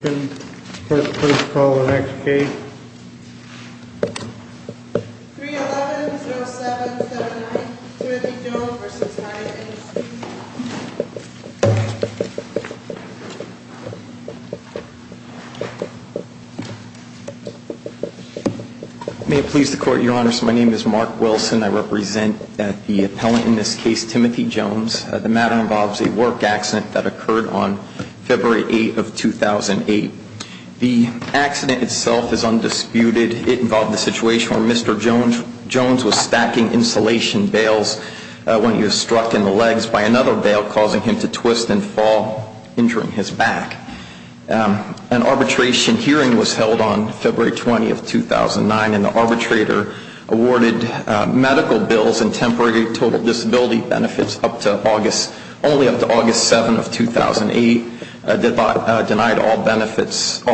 Please call the next case. 311-0779, Timothy Jones v. Hyatt Industries. May it please the Court, Your Honors. My name is Mark Wilson. I represent the appellant in this case, Timothy Jones. The matter involves a work accident that occurred on February 8th of 2008. The accident itself is undisputed. It involved a situation where Mr. Jones was stacking insulation bales when he was struck in the legs by another bale, causing him to twist and fall, injuring his back. An arbitration hearing was held on February 20th, 2009, and the arbitrator awarded medical bills and temporary total disability benefits only up to August 7th of 2008, denied all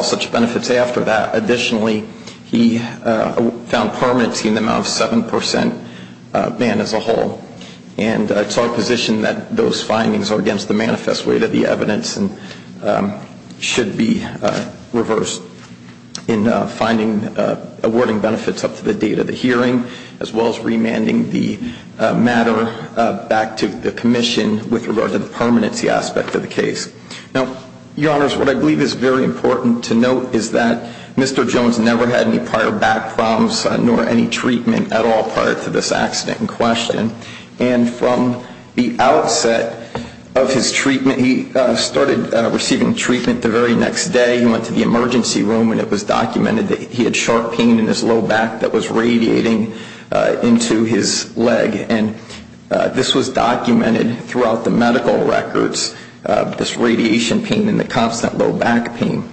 such benefits after that. Additionally, he found permanency in the amount of 7% ban as a whole. And it's our position that those findings are against the manifest way to the evidence and should be reversed in finding, awarding benefits up to the date of the hearing, as well as remanding the matter back to the Commission with regard to the permanency aspect of the case. Now, Your Honors, what I believe is very important to note is that Mr. Jones never had any prior back problems nor any treatment at all prior to this accident in question. And from the outset of his treatment, he started receiving treatment the very next day. He went to the emergency room and it was documented that he had sharp pain in his low back that was radiating into his leg. And this was documented throughout the medical records, this radiation pain and the constant low back pain.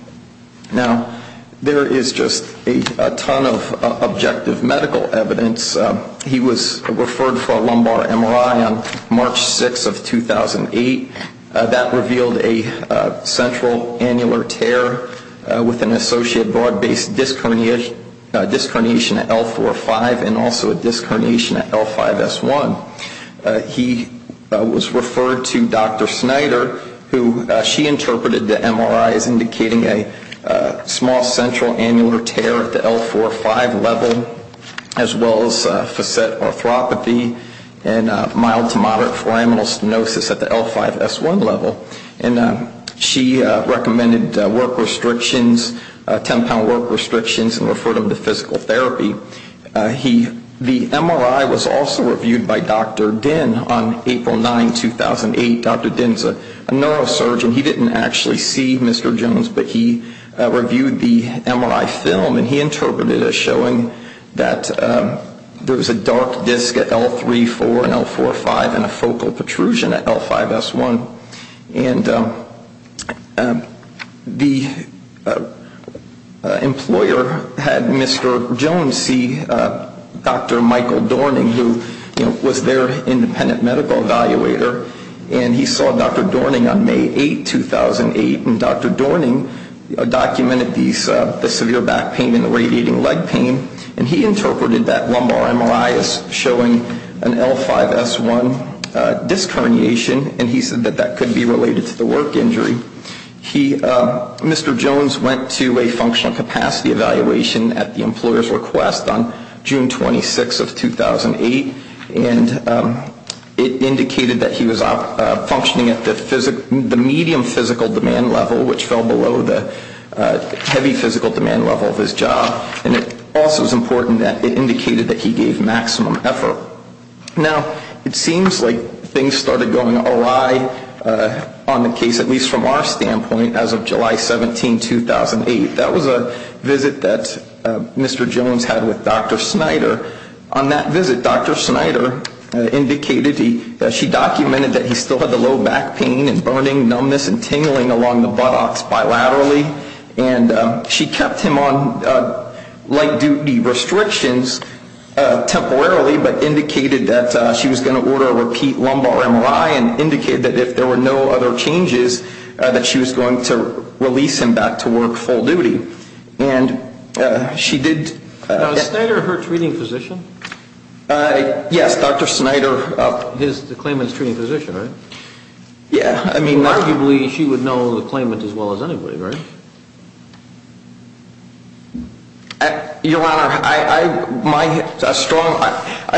Now, there is just a ton of objective medical evidence. He was referred for a lumbar MRI on March 6th of 2008. That revealed a central annular tear with an associated broad-based disc herniation at L4-5 and also a disc herniation at L5-S1. He was referred to Dr. Snyder, who she interpreted the MRI as indicating a small central annular tear at the L4-5 level, as well as facet arthropathy and mild to moderate foraminal stenosis at the L5-S1 level. And she recommended work restrictions, 10-pound work restrictions and referred him to physical therapy. The MRI was also reviewed by Dr. Dinh on April 9, 2008. Dr. Dinh is a neurosurgeon. He didn't actually see Mr. Jones, but he reviewed the MRI film. And he interpreted it as showing that there was a dark disc at L3-4 and L4-5 and a focal protrusion at L5-S1. And the employer had Mr. Jones see Dr. Michael Dorning, who was their independent medical evaluator. And he saw Dr. Dorning on May 8, 2008. And Dr. Dorning documented the severe back pain and the radiating leg pain. And he interpreted that lumbar MRI as showing an L5-S1 disc herniation. And he said that that could be related to the work injury. Mr. Jones went to a functional capacity evaluation at the employer's request on June 26 of 2008. And it indicated that he was functioning at the medium physical demand level, which fell below the heavy physical demand level of his job. And it also is important that it indicated that he gave maximum effort. Now, it seems like things started going awry on the case, at least from our standpoint, as of July 17, 2008. That was a visit that Mr. Jones had with Dr. Snyder. On that visit, Dr. Snyder indicated that she documented that he still had the low back pain and burning, numbness, and tingling along the buttocks bilaterally. And she kept him on light-duty restrictions temporarily, but indicated that she was going to order a repeat lumbar MRI. And indicated that if there were no other changes, that she was going to release him back to work full duty. And she did... Now, is Snyder her treating physician? Yes, Dr. Snyder... The claimant's treating physician, right? Yeah, I mean... Arguably, she would know the claimant as well as anybody, right? Your Honor, I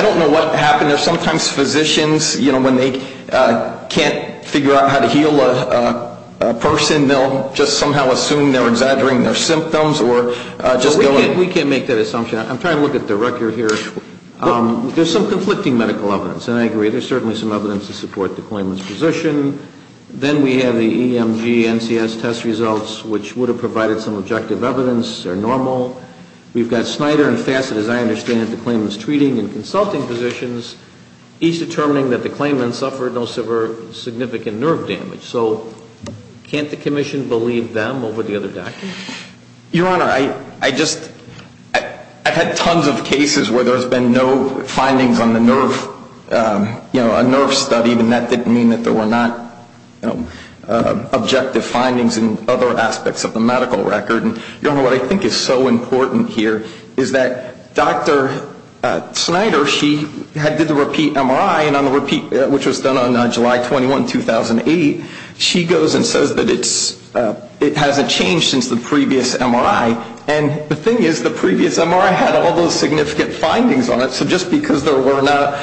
don't know what happened. Sometimes physicians, you know, when they can't figure out how to heal a person, they'll just somehow assume they're exaggerating their symptoms or just go... We can't make that assumption. I'm trying to look at the record here. There's some conflicting medical evidence, and I agree. There's certainly some evidence to support the claimant's position. Then we have the EMG NCS test results, which would have provided some objective evidence. They're normal. We've got Snyder and Fassett, as I understand it, the claimant's treating and consulting physicians. Each determining that the claimant suffered no severe significant nerve damage. So, can't the Commission believe them over the other doctors? Your Honor, I just... I've had tons of cases where there's been no findings on the nerve... You know, a nerve study, and that didn't mean that there were not objective findings in other aspects of the medical record. Your Honor, what I think is so important here is that Dr. Snyder, she did the repeat MRI, which was done on July 21, 2008. She goes and says that it hasn't changed since the previous MRI. And the thing is, the previous MRI had all those significant findings on it. So, just because there were not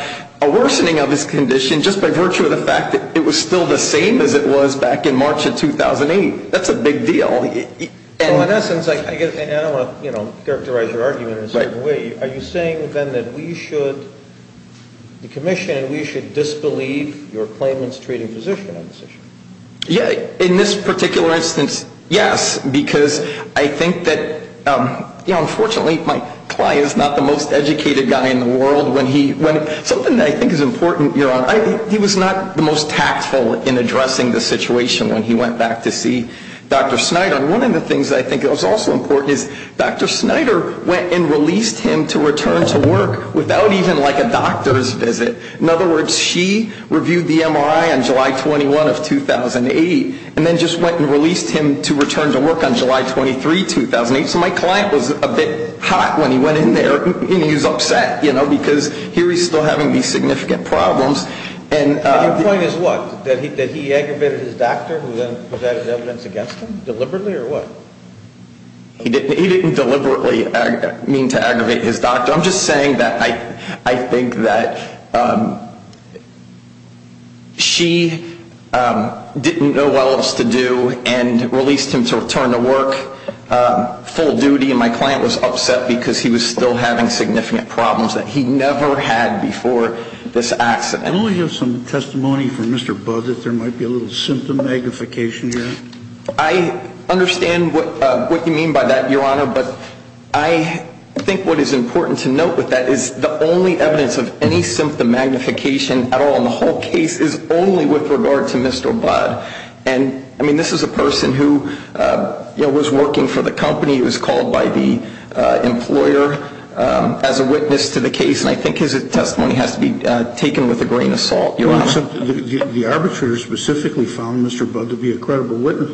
a worsening of his condition, just by virtue of the fact that it was still the same as it was back in March of 2008, that's a big deal. Well, in essence, and I don't want to characterize your argument in a certain way, are you saying then that we should, the Commission, we should disbelieve your claimant's treating physician on this issue? Yeah, in this particular instance, yes. Because I think that, you know, unfortunately my client is not the most educated guy in the world when he... Something that I think is important, Your Honor, he was not the most tactful in addressing the situation when he went back to see Dr. Snyder. And one of the things that I think is also important is Dr. Snyder went and released him to return to work without even like a doctor's visit. In other words, she reviewed the MRI on July 21 of 2008, and then just went and released him to return to work on July 23, 2008. So my client was a bit hot when he went in there, and he was upset, you know, because here he's still having these significant problems. And your point is what? That he aggravated his doctor who then presented evidence against him deliberately, or what? He didn't deliberately mean to aggravate his doctor. I'm just saying that I think that she didn't know what else to do and released him to return to work full duty. And my client was upset because he was still having significant problems that he never had before this accident. I only have some testimony from Mr. Budd that there might be a little symptom magnification here. I understand what you mean by that, Your Honor. But I think what is important to note with that is the only evidence of any symptom magnification at all in the whole case is only with regard to Mr. Budd. And, I mean, this is a person who, you know, was working for the company. He was called by the employer as a witness to the case, and I think his testimony has to be taken with a grain of salt, Your Honor. The arbitrator specifically found Mr. Budd to be a credible witness,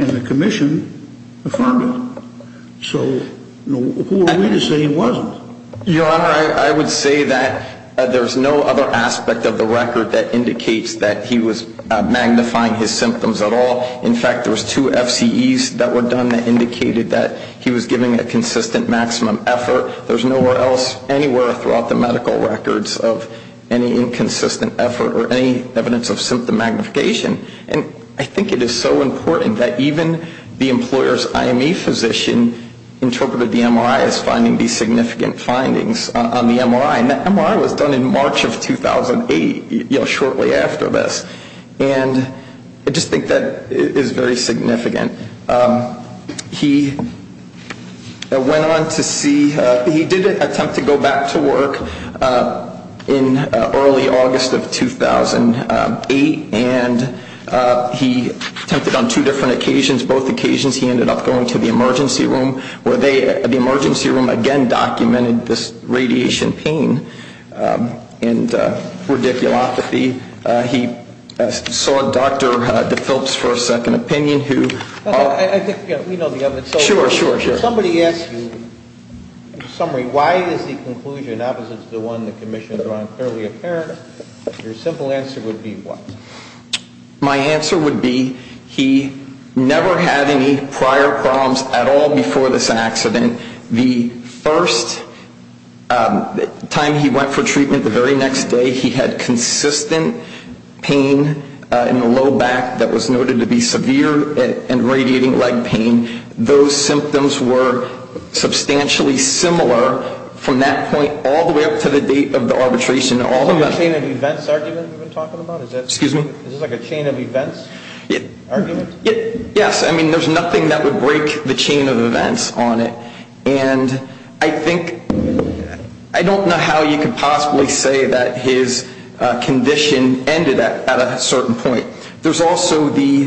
and the commission affirmed it. So who are we to say he wasn't? Your Honor, I would say that there's no other aspect of the record that indicates that he was magnifying his symptoms at all. In fact, there was two FCEs that were done that indicated that he was giving a consistent maximum effort. There's nowhere else anywhere throughout the medical records of any inconsistent effort or any evidence of symptom magnification. And I think it is so important that even the employer's IME physician interpreted the MRI as finding these significant findings on the MRI. And that MRI was done in March of 2008, you know, shortly after this. And I just think that is very significant. He went on to see, he did attempt to go back to work in early August of 2008, and he attempted on two different occasions, both occasions he ended up going to the emergency room, where the emergency room again documented this radiation pain and radiculopathy. He saw Dr. DePhillips for a second opinion, who... I think we know the evidence. Sure, sure, sure. If somebody asks you, in summary, why is the conclusion opposite to the one the commission has drawn clearly apparent, your simple answer would be what? My answer would be he never had any prior problems at all before this accident. The first time he went for treatment, the very next day, he had consistent pain in the low back that was noted to be severe and radiating leg pain. Those symptoms were substantially similar from that point all the way up to the date of the arbitration. Is this like a chain of events argument you've been talking about? Excuse me? Is this like a chain of events argument? Yes. I mean, there's nothing that would break the chain of events on it. And I think, I don't know how you could possibly say that his condition ended at a certain point. There's also the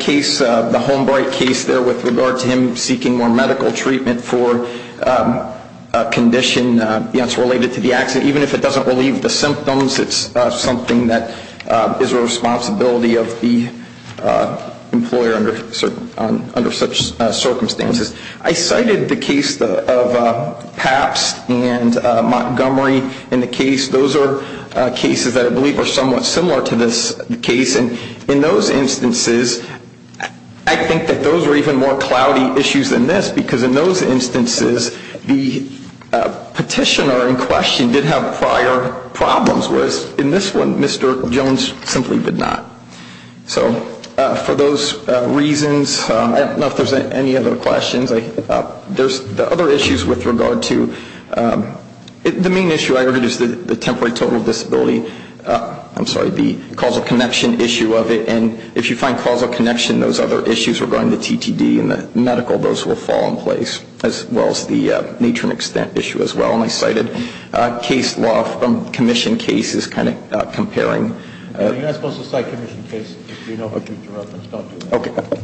case, the Holmbright case there with regard to him seeking more medical treatment for a condition that's related to the accident. Even if it doesn't relieve the symptoms, it's something that is a responsibility of the employer under such circumstances. I cited the case of Pabst and Montgomery in the case. Those are cases that I believe are somewhat similar to this case. And in those instances, I think that those were even more cloudy issues than this because in those instances, the petitioner in question did have prior problems whereas in this one, Mr. Jones simply did not. So for those reasons, I don't know if there's any other questions. There's the other issues with regard to, the main issue I heard is the temporary total disability. I'm sorry, the causal connection issue of it. And if you find causal connection, those other issues regarding the TTD and the medical, those will fall in place as well as the need for an extent issue as well. And I cited case law from commission cases kind of comparing. You're not supposed to cite commission cases if you know what you're talking about.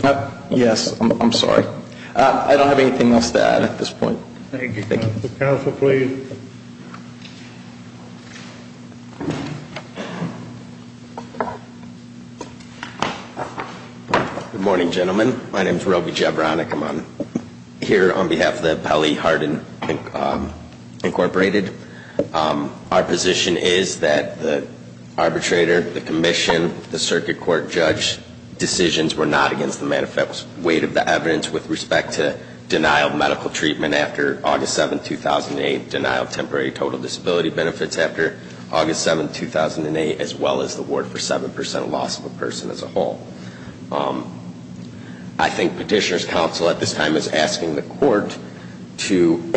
Okay. Yes, I'm sorry. I don't have anything else to add at this point. Thank you. Counsel, please. Good morning, gentlemen. My name is Roby Jebranek. I'm here on behalf of the Appellee Harden Incorporated. Our position is that the arbitrator, the commission, the circuit court judge, decisions were not against the manifest weight of the evidence with respect to denial of medical treatment after August 7, 2008, denial of temporary total disability benefits after August 7, 2008, as well as the award for 7% loss of a person as a whole. I think petitioner's counsel at this time is asking the court to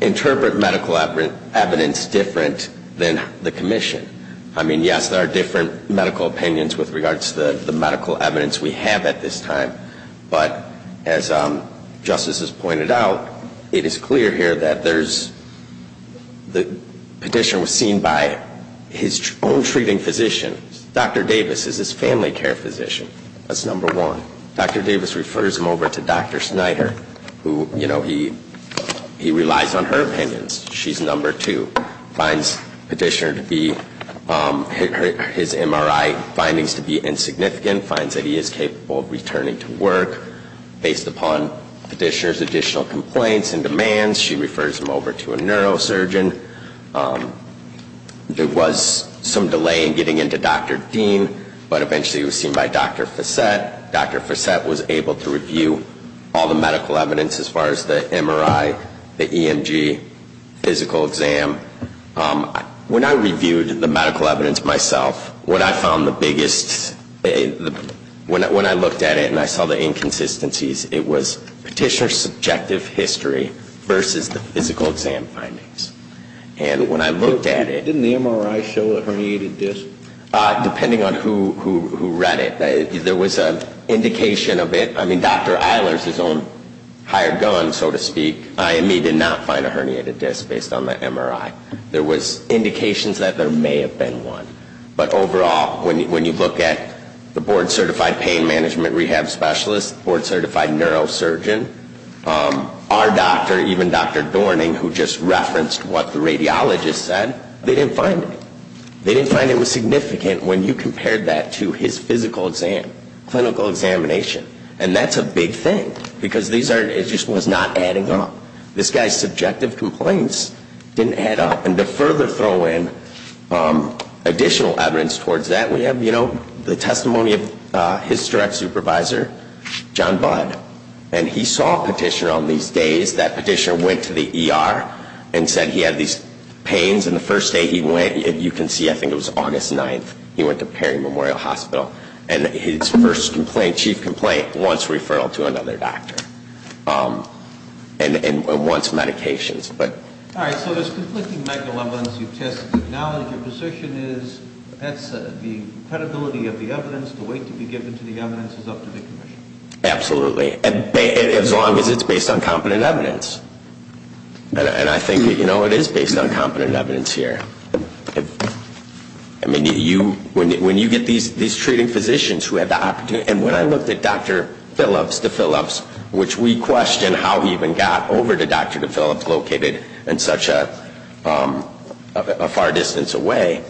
interpret medical evidence different than the commission. I mean, yes, there are different medical opinions with regards to the medical evidence we have at this time, but as justice has pointed out, it is clear here that the petitioner was seen by his own treating physician. Dr. Davis is his family care physician. That's number one. Dr. Davis refers him over to Dr. Snyder, who, you know, he relies on her opinions. She's number two. Finds petitioner to be, his MRI findings to be insignificant. Finds that he is capable of returning to work based upon petitioner's additional complaints and demands. She refers him over to a neurosurgeon. There was some delay in getting into Dr. Dean, but eventually he was seen by Dr. Fossett. Dr. Fossett was able to review all the medical evidence as far as the MRI, the EMG, physical exam. When I reviewed the medical evidence myself, what I found the biggest, when I looked at it and I saw the inconsistencies, it was petitioner's subjective history versus the physical exam findings. And when I looked at it... Didn't the MRI show a herniated disc? Depending on who read it. There was an indication of it. I mean, Dr. Eilers, his own hired gun, so to speak, IME did not find a herniated disc based on the MRI. There was indications that there may have been one. But overall, when you look at the board-certified pain management rehab specialist, the board-certified neurosurgeon, our doctor, even Dr. Dorning, who just referenced what the radiologist said, they didn't find it. They didn't find it was significant when you compared that to his physical exam, clinical examination. And that's a big thing, because it just was not adding up. This guy's subjective complaints didn't add up. And to further throw in additional evidence towards that, we have the testimony of his direct supervisor, John Budd. And he saw a petitioner on these days. That petitioner went to the ER and said he had these pains. And the first day he went, you can see, I think it was August 9th, he went to Perry Memorial Hospital. And his first complaint, chief complaint, was a referral to another doctor and wants medications. All right. So there's conflicting medical evidence you've tested. Now your position is, that's the credibility of the evidence, the weight to be given to the evidence is up to the commission. Absolutely. As long as it's based on competent evidence. And I think, you know, it is based on competent evidence here. I mean, you, when you get these treating physicians who have the opportunity, and when I looked at Dr. Phillips, which we question how he even got over to Dr. Phillips located in such a far distance away,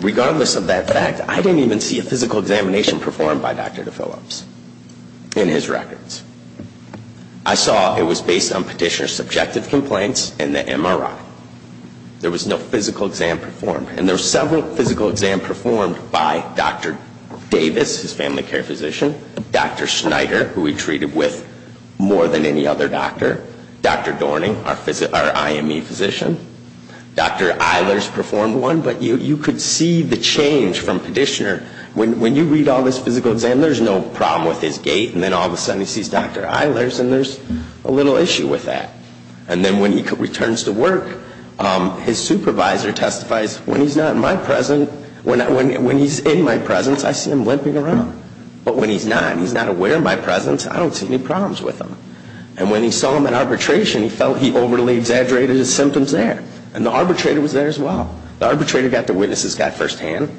regardless of that fact, I didn't even see a physical examination performed by Dr. Phillips in his records. I saw it was based on petitioner's subjective complaints and the MRI. There was no physical exam performed. And there were several physical exam performed by Dr. Davis, his family care physician, Dr. Schneider, who he treated with more than any other doctor, Dr. Dorning, our IME physician, Dr. Eilers performed one, but you could see the change from petitioner. When you read all this physical exam, there's no problem with his gait, and then all of a sudden he sees Dr. Eilers and there's a little issue with that. And then when he returns to work, his supervisor testifies, when he's not in my presence, when he's in my presence, I see him limping around. But when he's not, and he's not aware of my presence, I don't see any problems with him. And when he saw him at arbitration, he felt he overly exaggerated his symptoms there. And the arbitrator was there as well. The arbitrator got to witness this guy firsthand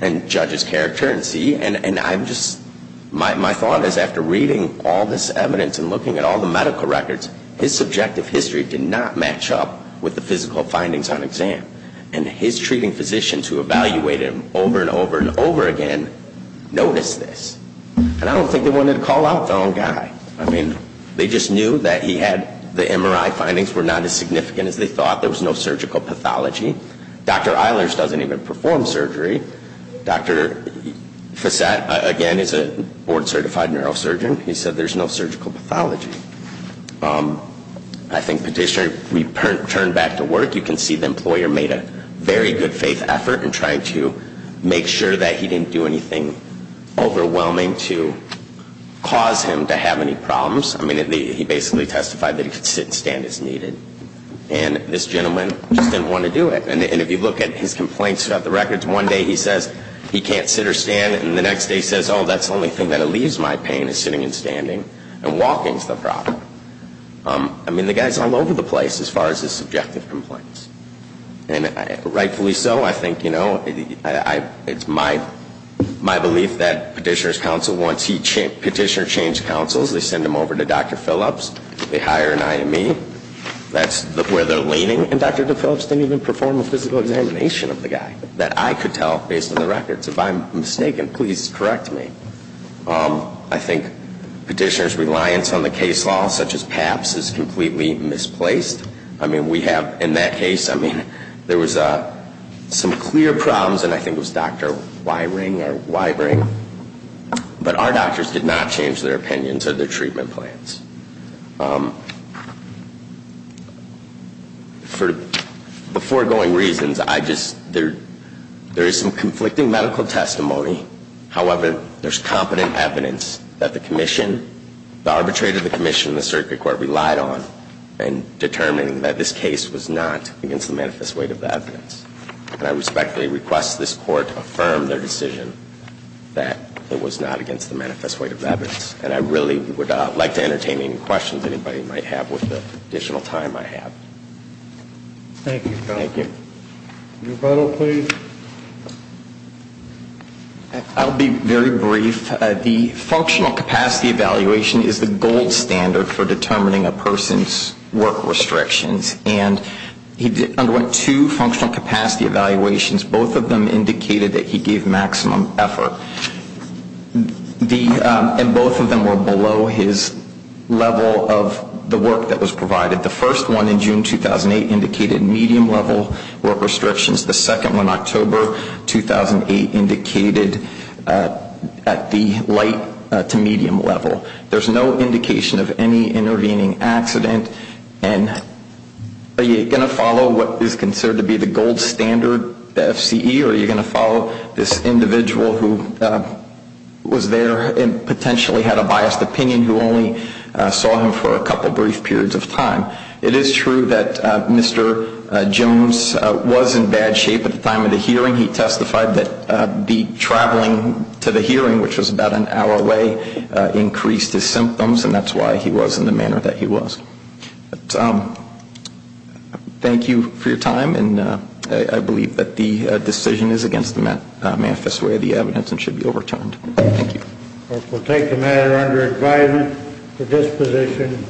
and judge his character and see, and I'm just, my thought is after reading all this evidence and looking at all the medical records, his subjective history did not match up with the physical findings on exam. And his treating physician to evaluate him over and over and over again noticed this. And I don't think they wanted to call out the wrong guy. I mean, they just knew that he had the MRI findings were not as significant as they thought. There was no surgical pathology. Dr. Eilers doesn't even perform surgery. Dr. Fassat, again, is a board certified neurosurgeon. He said there's no surgical pathology. I think petitioner, if we turn back to work, you can see the employer made a very good faith effort in trying to make sure that he didn't do anything overwhelming to cause him to have any problems. I mean, he basically testified that he could sit and stand as needed. And this gentleman just didn't want to do it. And if you look at his complaints about the records, one day he says he can't sit or stand and the next day he says, oh, that's the only thing that relieves my pain is sitting and standing. And walking's the problem. I mean, the guy's all over the place as far as his subjective complaints. And rightfully so, I think it's my belief that petitioner's counsel wants petitioner to change counsels. They send him over to Dr. Phillips. They hire an IME. That's where they're leaning. And Dr. Phillips didn't even perform a physical examination of the guy that I could tell based on the records. If I'm mistaken, please correct me. I think petitioner's reliance on the case law such as PAPS is completely misplaced. I mean, we have in that case, I mean, there was some clear problems and I think it was Dr. Wiring or Wiring, but our doctors did not change their opinions or their treatment plans. For foregoing reasons, there is some conflicting medical testimony. However, there's competent evidence that the Commission, the arbitrator of the Commission and the Circuit Court relied on in determining that this case was not against the manifest weight of the evidence. And I respectfully request this Court affirm their decision that it was not against the manifest weight of the evidence. And I really would like to entertain any questions anybody might have with the additional time I have. Thank you. I'll be very brief. The functional capacity evaluation is the gold standard for determining a person's work restrictions and he underwent two functional capacity evaluations, both of them indicated that he gave maximum effort. And both of them were below his level of the work that was provided. The first one in June 2008 indicated medium level work restrictions. The second one October 2008 indicated at the light to medium level. There's no indication of any intervening accident and are you going to follow what is considered to be the gold standard FCE or are you going to follow this individual who was there and potentially had a biased opinion who only saw him for a couple brief periods of time. It is true that Mr. Jones was in bad shape at the time of the hearing. He testified that the traveling to the hearing, which was about an hour away, increased his symptoms and that's why he was in the manner that he was. Thank you for your time and I believe that the decision is against the manifest weight of the evidence and should be overturned. We'll take the matter under advisement for disposition.